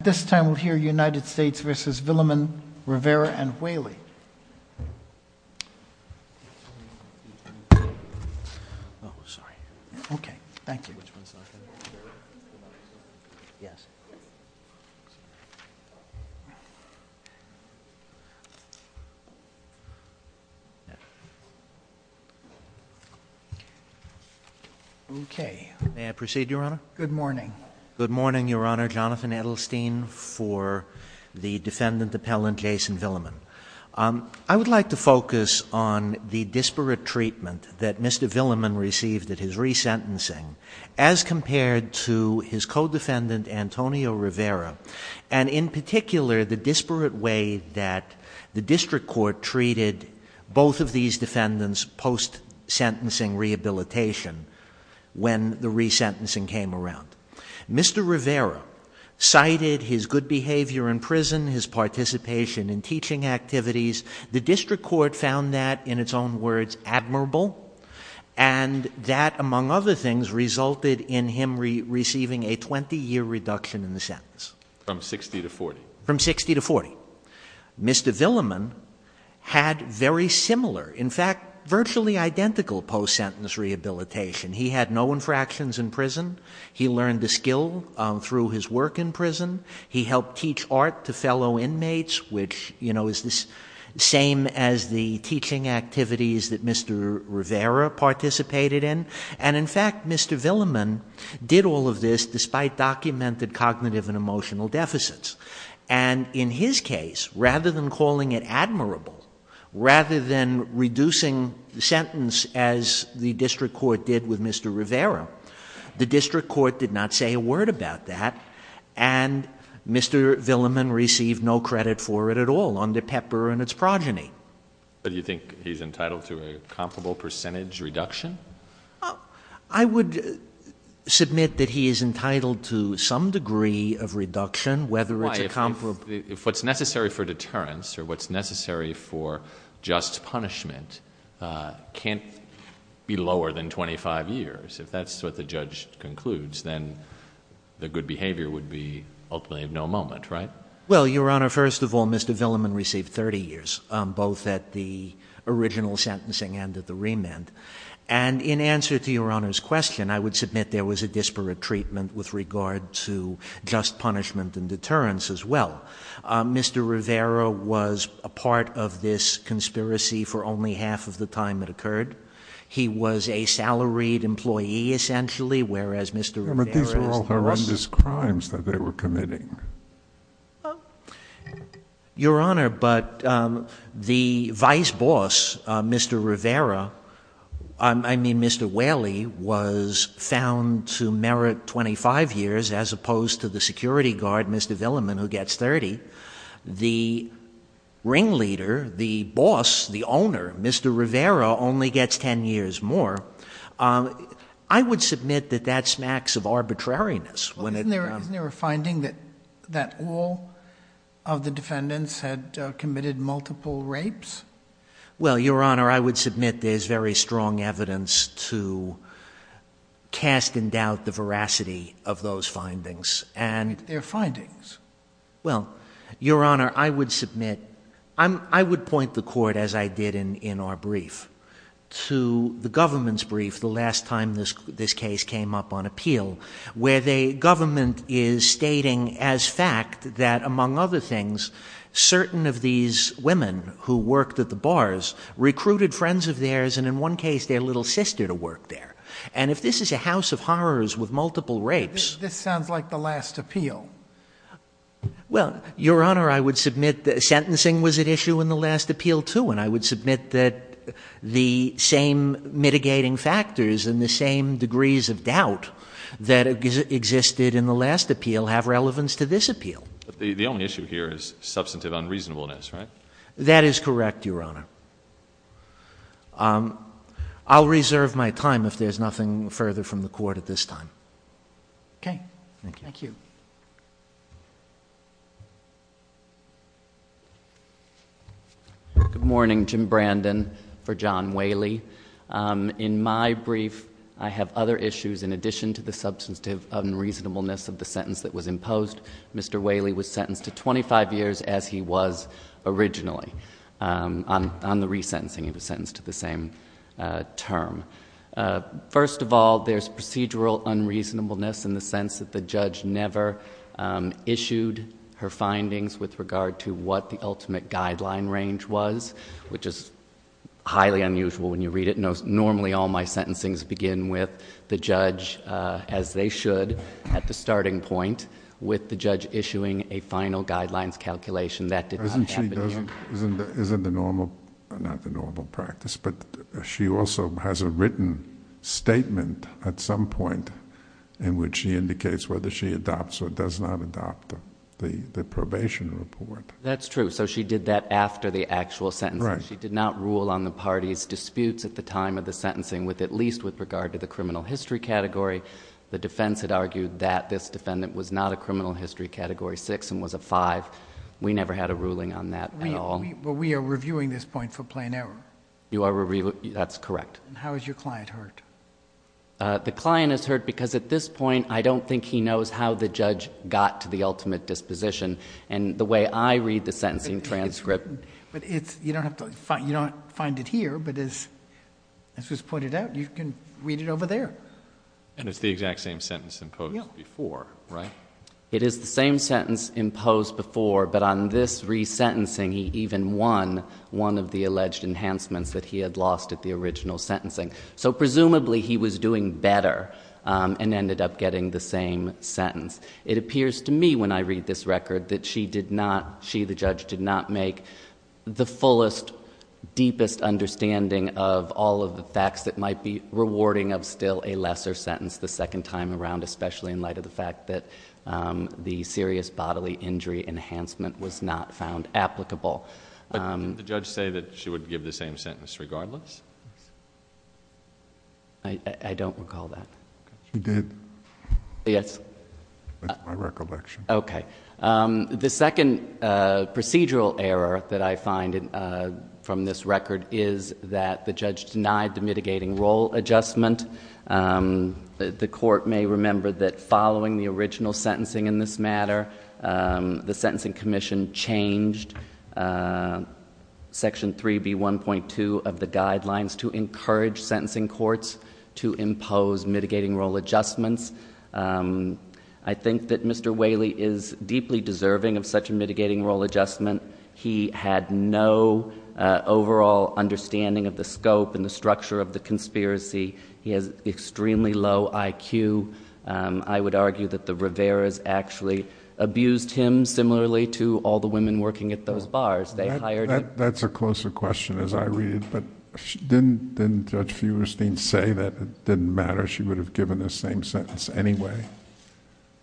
At this time, we'll hear United States v. Willimon, Rivera, and Whaley. Oh, sorry. Okay, thank you. Okay. May I proceed, Your Honor? Good morning. Good morning, Your Honor. Jonathan Edelstein for the defendant appellant, Jason Willimon. I would like to focus on the disparate treatment that Mr. Willimon received at his resentencing as compared to his co-defendant, Antonio Rivera, and in particular, the disparate way that the district court treated both of these defendants post-sentencing rehabilitation when the resentencing came around. Mr. Rivera cited his good behavior in prison, his participation in teaching activities. The district court found that, in its own words, admirable, and that, among other things, resulted in him receiving a 20-year reduction in the sentence. From 60 to 40. From 60 to 40. Mr. Willimon had very similar, in fact, virtually identical post-sentence rehabilitation. He had no infractions in prison. He learned the skill through his work in prison. He helped teach art to fellow inmates, which is the same as the teaching activities that Mr. Rivera participated in. And, in fact, Mr. Willimon did all of this despite documented cognitive and emotional deficits. And in his case, rather than calling it admirable, rather than reducing the sentence as the district court did with Mr. Rivera, the district court did not say a word about that. And Mr. Willimon received no credit for it at all under Pepper and its progeny. But do you think he's entitled to a comparable percentage reduction? I would submit that he is entitled to some degree of reduction, whether it's a comparable. But if what's necessary for deterrence or what's necessary for just punishment can't be lower than 25 years, if that's what the judge concludes, then the good behavior would be ultimately of no moment, right? Well, Your Honor, first of all, Mr. Willimon received 30 years, both at the original sentencing and at the remand. And in answer to Your Honor's question, I would submit there was a disparate treatment with regard to just punishment and deterrence as well. Mr. Rivera was a part of this conspiracy for only half of the time it occurred. He was a salaried employee, essentially, whereas Mr. Rivera is the boss. But these were all horrendous crimes that they were committing. Your Honor, but the vice boss, Mr. Rivera, I mean, Mr. Whaley, was found to merit 25 years as opposed to the security guard, Mr. Willimon, who gets 30. The ringleader, the boss, the owner, Mr. Rivera, only gets 10 years more. I would submit that that smacks of arbitrariness. Well, isn't there a finding that all of the defendants had committed multiple rapes? Well, Your Honor, I would submit there's very strong evidence to cast in doubt the veracity of those findings. What are their findings? Well, Your Honor, I would point the court, as I did in our brief, to the government's brief the last time this case came up on appeal, where the government is stating as fact that, among other things, certain of these women who worked at the bars recruited friends of theirs and, in one case, their little sister to work there. And if this is a house of horrors with multiple rapes— This sounds like the last appeal. Well, Your Honor, I would submit that sentencing was at issue in the last appeal, too, and I would submit that the same mitigating factors and the same degrees of doubt that existed in the last appeal have relevance to this appeal. The only issue here is substantive unreasonableness, right? That is correct, Your Honor. I'll reserve my time if there's nothing further from the court at this time. Okay. Thank you. Thank you. Good morning. Jim Brandon for John Whaley. In my brief, I have other issues in addition to the substantive unreasonableness of the sentence that was imposed. Mr. Whaley was sentenced to 25 years as he was originally. On the resentencing, he was sentenced to the same term. First of all, there's procedural unreasonableness in the sense that the judge never issued her findings with regard to what the ultimate guideline range was, which is highly unusual when you read it. Normally, all my sentencings begin with the judge, as they should, at the starting point, with the judge issuing a final guidelines calculation. That did not happen here. Isn't the normal... not the normal practice, but she also has a written statement at some point in which she indicates whether she adopts or does not adopt the probation report. That's true. She did that after the actual sentencing. She did not rule on the party's disputes at the time of the sentencing, at least with regard to the criminal history category. The defense had argued that this defendant was not a criminal history category 6 and was a 5. We never had a ruling on that at all. But we are reviewing this point for plain error. You are reviewing... that's correct. How is your client hurt? The client is hurt because at this point, I don't think he knows how the judge got to the ultimate disposition. And the way I read the sentencing transcript... But it's... you don't have to... you don't find it here, but as was pointed out, you can read it over there. And it's the exact same sentence imposed before, right? It is the same sentence imposed before, but on this resentencing, he even won one of the alleged enhancements that he had lost at the original sentencing. So presumably, he was doing better and ended up getting the same sentence. It appears to me, when I read this record, that she did not... she, the judge, did not make the fullest, deepest understanding of all of the facts that might be rewarding of still a lesser sentence the second time around, especially in light of the fact that the serious bodily injury enhancement was not found applicable. But did the judge say that she would give the same sentence regardless? I don't recall that. She did. Yes. That's my recollection. Okay. The second procedural error that I find from this record is that the judge denied the mitigating role adjustment. The court may remember that following the original sentencing in this matter, the Sentencing Commission changed Section 3B1.2 of the guidelines to encourage sentencing courts to impose mitigating role adjustments. I think that Mr. Whaley is deeply deserving of such a mitigating role adjustment. He had no overall understanding of the scope and the structure of the conspiracy. He has extremely low IQ. I would argue that the Riveras actually abused him similarly to all the women working at those bars. They hired... That's a closer question, as I read it. But didn't Judge Feuerstein say that it didn't matter, she would have given the same sentence anyway?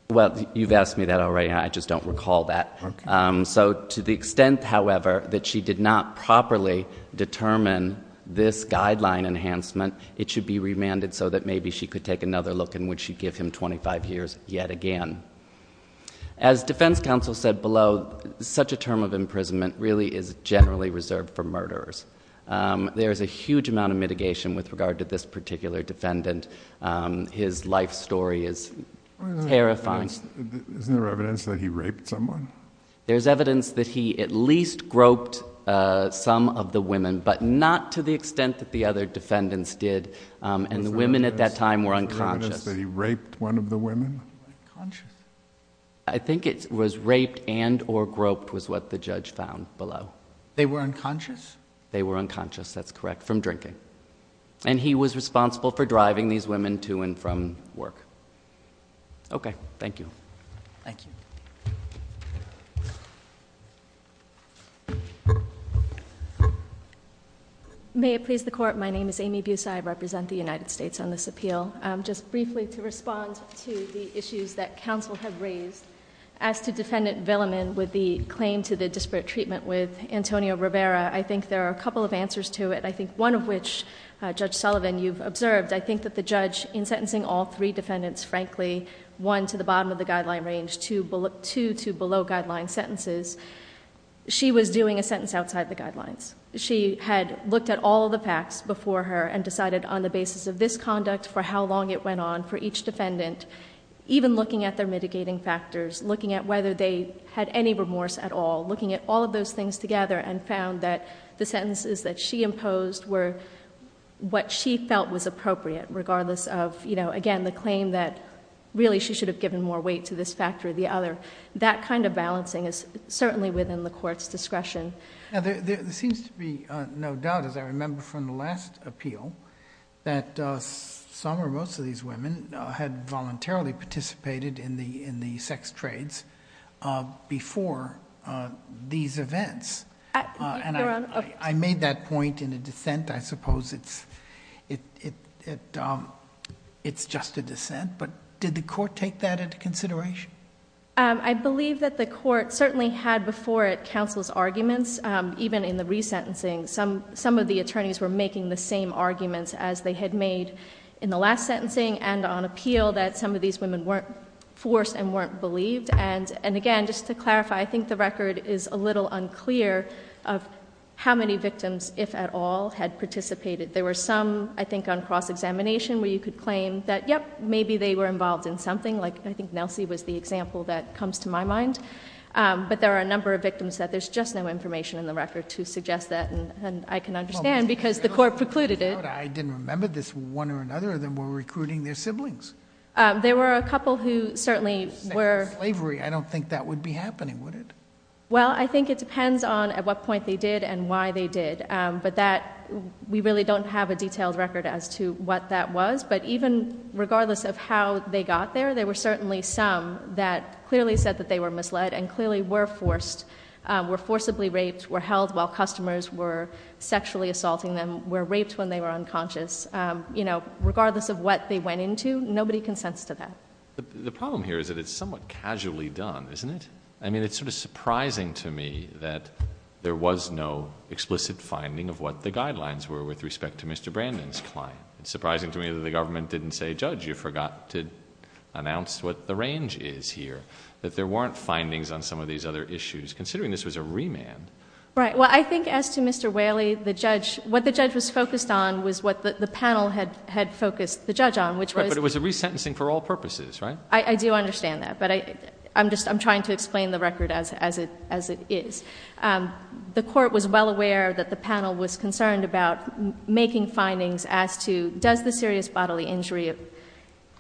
Well, you've asked me that already. I just don't recall that. Okay. So to the extent, however, that she did not properly determine this guideline enhancement, it should be remanded so that maybe she could take another look and would she give him 25 years yet again. As defense counsel said below, such a term of imprisonment really is generally reserved for murderers. There is a huge amount of mitigation with regard to this particular defendant. His life story is terrifying. Isn't there evidence that he raped someone? There's evidence that he at least groped some of the women, but not to the extent that the other defendants did. And the women at that time were unconscious. Is there evidence that he raped one of the women? I think it was raped and or groped was what the judge found below. They were unconscious? They were unconscious, that's correct, from drinking. And he was responsible for driving these women to and from work. Okay. Thank you. Thank you. Thank you. May it please the court, my name is Amy Bussi. I represent the United States on this appeal. Just briefly to respond to the issues that counsel have raised as to defendant Villiman with the claim to the disparate treatment with Antonio Rivera. I think there are a couple of answers to it. I think one of which, Judge Sullivan, you've observed, I think that the judge in sentencing all three defendants, frankly, one to the bottom of the guideline range, two to below guideline sentences. She was doing a sentence outside the guidelines. She had looked at all the facts before her and decided on the basis of this conduct for how long it went on for each defendant, even looking at their mitigating factors, looking at whether they had any remorse at all, looking at all of those things together and found that the sentences that she imposed were what she felt was appropriate, regardless of, again, the claim that really she should have given more weight to this factor or the other. That kind of balancing is certainly within the court's discretion. There seems to be no doubt, as I remember from the last appeal, that some or most of these women had voluntarily participated in the sex trades before these events. Your Honor. I made that point in a dissent. I suppose it's just a dissent, but did the court take that into consideration? I believe that the court certainly had before it counsel's arguments, even in the resentencing. Some of the attorneys were making the same arguments as they had made in the last sentencing and on appeal that some of these women weren't forced and weren't believed. And again, just to clarify, I think the record is a little unclear of how many victims, if at all, had participated. There were some, I think on cross-examination, where you could claim that, yep, maybe they were involved in something. I think Nelsie was the example that comes to my mind. But there are a number of victims that there's just no information in the record to suggest that. And I can understand because the court precluded it. I didn't remember this. One or another of them were recruiting their siblings. There were a couple who certainly were. I don't think that would be happening, would it? Well, I think it depends on at what point they did and why they did. But we really don't have a detailed record as to what that was. But even regardless of how they got there, there were certainly some that clearly said that they were misled and clearly were forced, were forcibly raped, were held while customers were sexually assaulting them, were raped when they were unconscious. Regardless of what they went into, nobody consents to that. The problem here is that it's somewhat casually done, isn't it? I mean, it's sort of surprising to me that there was no explicit finding of what the guidelines were with respect to Mr. Brandon's client. It's surprising to me that the government didn't say, Judge, you forgot to announce what the range is here, that there weren't findings on some of these other issues, considering this was a remand. Right. Well, I think as to Mr. Whaley, the judge, what the judge was focused on was what the panel had focused the judge on, which was that it was a resentencing for all purposes, right? I do understand that. But I'm trying to explain the record as it is. The court was well aware that the panel was concerned about making findings as to, does the serious bodily injury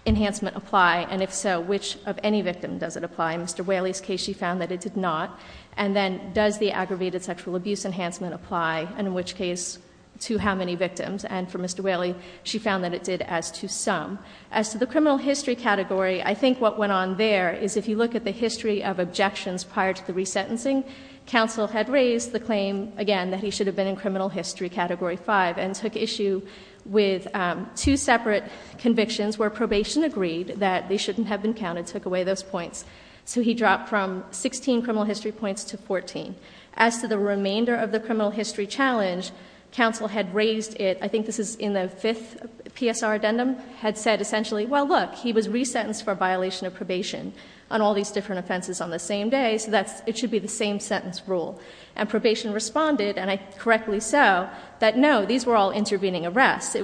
enhancement apply? And if so, which of any victim does it apply? In Mr. Whaley's case, she found that it did not. And then, does the aggravated sexual abuse enhancement apply? And in which case, to how many victims? And for Mr. Whaley, she found that it did as to some. As to the criminal history category, I think what went on there is if you look at the history of objections prior to the resentencing, counsel had raised the claim, again, that he should have been in criminal history category 5, and took issue with two separate convictions where probation agreed that they shouldn't have been counted, took away those points. So he dropped from 16 criminal history points to 14. As to the remainder of the criminal history challenge, counsel had raised it, I think this is in the fifth PSR addendum, had said essentially, well, look, he was resentenced for violation of probation on all these different offenses on the same day, so it should be the same sentence rule. And probation responded, and correctly so, that no, these were all intervening arrests. He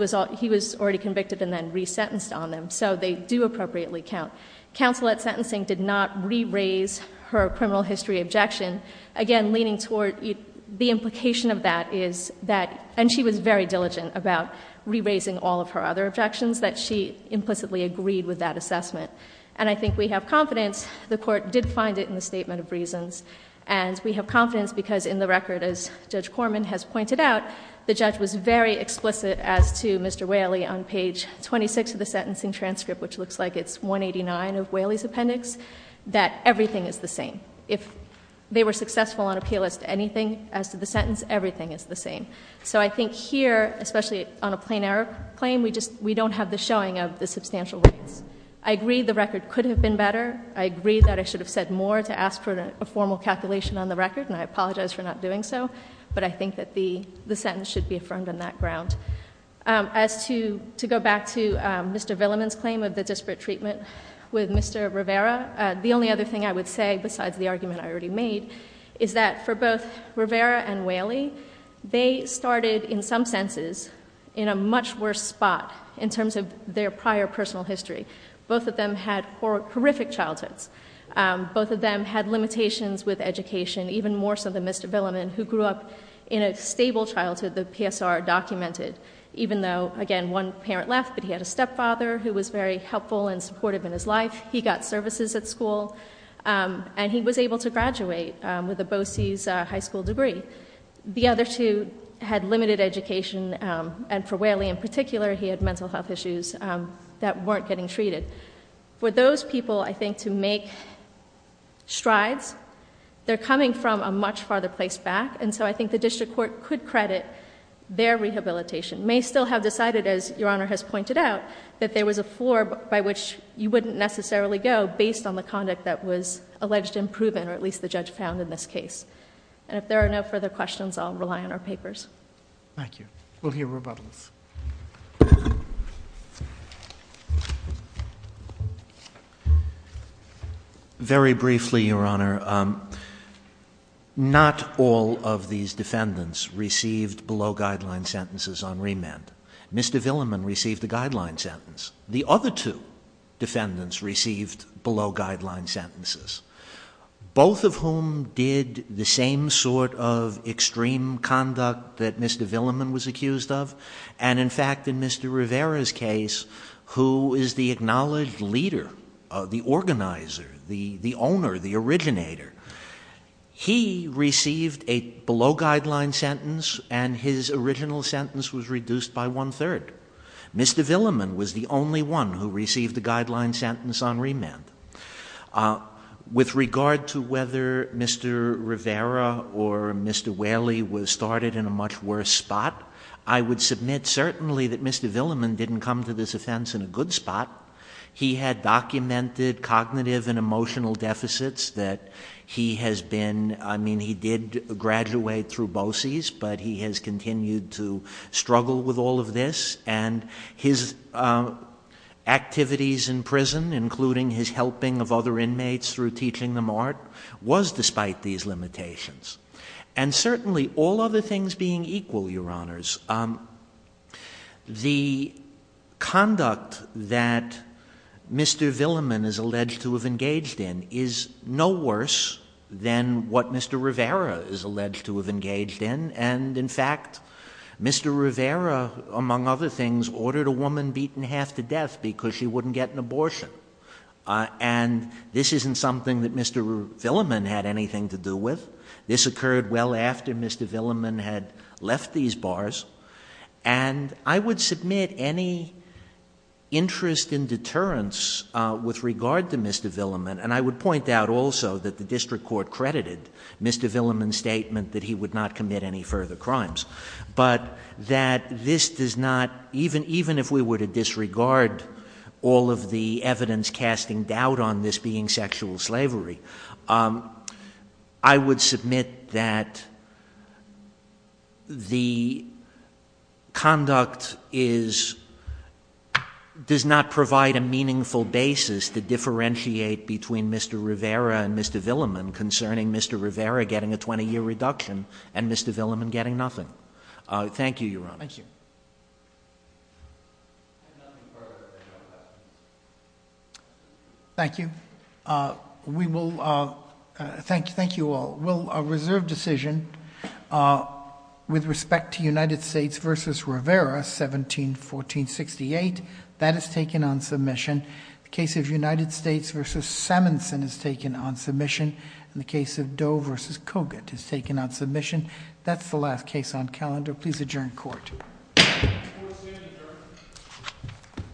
was already convicted and then resentenced on them. So they do appropriately count. Counsel at sentencing did not re-raise her criminal history objection. Again, leaning toward the implication of that is that, and she was very diligent about re-raising all of her other objections, that she implicitly agreed with that assessment. And I think we have confidence, the Court did find it in the statement of reasons, and we have confidence because in the record, as Judge Corman has pointed out, the judge was very explicit as to Mr. Whaley on page 26 of the sentencing transcript, which looks like it's 189 of Whaley's appendix, that everything is the same. If they were successful on appeal as to anything, as to the sentence, everything is the same. So I think here, especially on a plain error claim, we don't have the showing of the substantial evidence. I agree the record could have been better. I agree that I should have said more to ask for a formal calculation on the record, and I apologize for not doing so. But I think that the sentence should be affirmed on that ground. As to go back to Mr. Villiman's claim of the disparate treatment with Mr. Rivera, the only other thing I would say, besides the argument I already made, is that for both Rivera and Whaley, they started, in some senses, in a much worse spot in terms of their prior personal history. Both of them had horrific childhoods. Both of them had limitations with education, even more so than Mr. Villiman, who grew up in a stable childhood that PSR documented, even though, again, one parent left, but he had a stepfather who was very helpful and supportive in his life. He got services at school, and he was able to graduate with a BOCES high school degree. The other two had limited education, and for Whaley in particular, he had mental health issues that weren't getting treated. For those people, I think, to make strides, they're coming from a much farther place back, and so I think the district court could credit their rehabilitation. May still have decided, as Your Honor has pointed out, that there was a floor by which you wouldn't necessarily go based on the conduct that was alleged and proven, or at least the judge found in this case. And if there are no further questions, I'll rely on our papers. Thank you. We'll hear rebuttals. Very briefly, Your Honor, not all of these defendants received below-guideline sentences on remand. Mr. Villiman received a guideline sentence. The other two defendants received below-guideline sentences, both of whom did the same sort of extreme conduct that Mr. Villiman was accused of, and in fact, in Mr. Rivera's case, who is the acknowledged leader, the organizer, the owner, the originator. He received a below-guideline sentence, and his original sentence was reduced by one-third. Mr. Villiman was the only one who received a guideline sentence on remand. With regard to whether Mr. Rivera or Mr. Whaley was started in a much worse spot, I would submit certainly that Mr. Villiman didn't come to this offense in a good spot. He had documented cognitive and emotional deficits that he has been, I mean, he did graduate through BOCES, but he has continued to struggle with all of this, and his activities in prison, including his helping of other inmates through teaching them art, was despite these limitations. And certainly, all other things being equal, Your Honors, the conduct that Mr. Villiman is alleged to have engaged in is no worse than what Mr. Rivera is alleged to have engaged in, and in fact, Mr. Rivera, among other things, ordered a woman beaten half to death because she wouldn't get an abortion. And this isn't something that Mr. Villiman had anything to do with. This occurred well after Mr. Villiman had left these bars. And I would submit any interest in deterrence with regard to Mr. Villiman, and I would point out also that the district court credited Mr. Villiman's statement that he would not commit any further crimes, but that this does not, even if we were to disregard all of the evidence casting doubt on this being sexual slavery, I would submit that the conduct does not provide a meaningful basis to differentiate between Mr. Rivera and Mr. Villiman concerning Mr. Rivera getting a 20-year reduction and Mr. Villiman getting nothing. Thank you, Your Honor. Thank you. Thank you. Thank you all. Well, a reserve decision with respect to United States v. Rivera, 17-1468, that is taken on submission. The case of United States v. Simonson is taken on submission. And the case of Doe v. Kogut is taken on submission. That's the last case on calendar. Please adjourn court.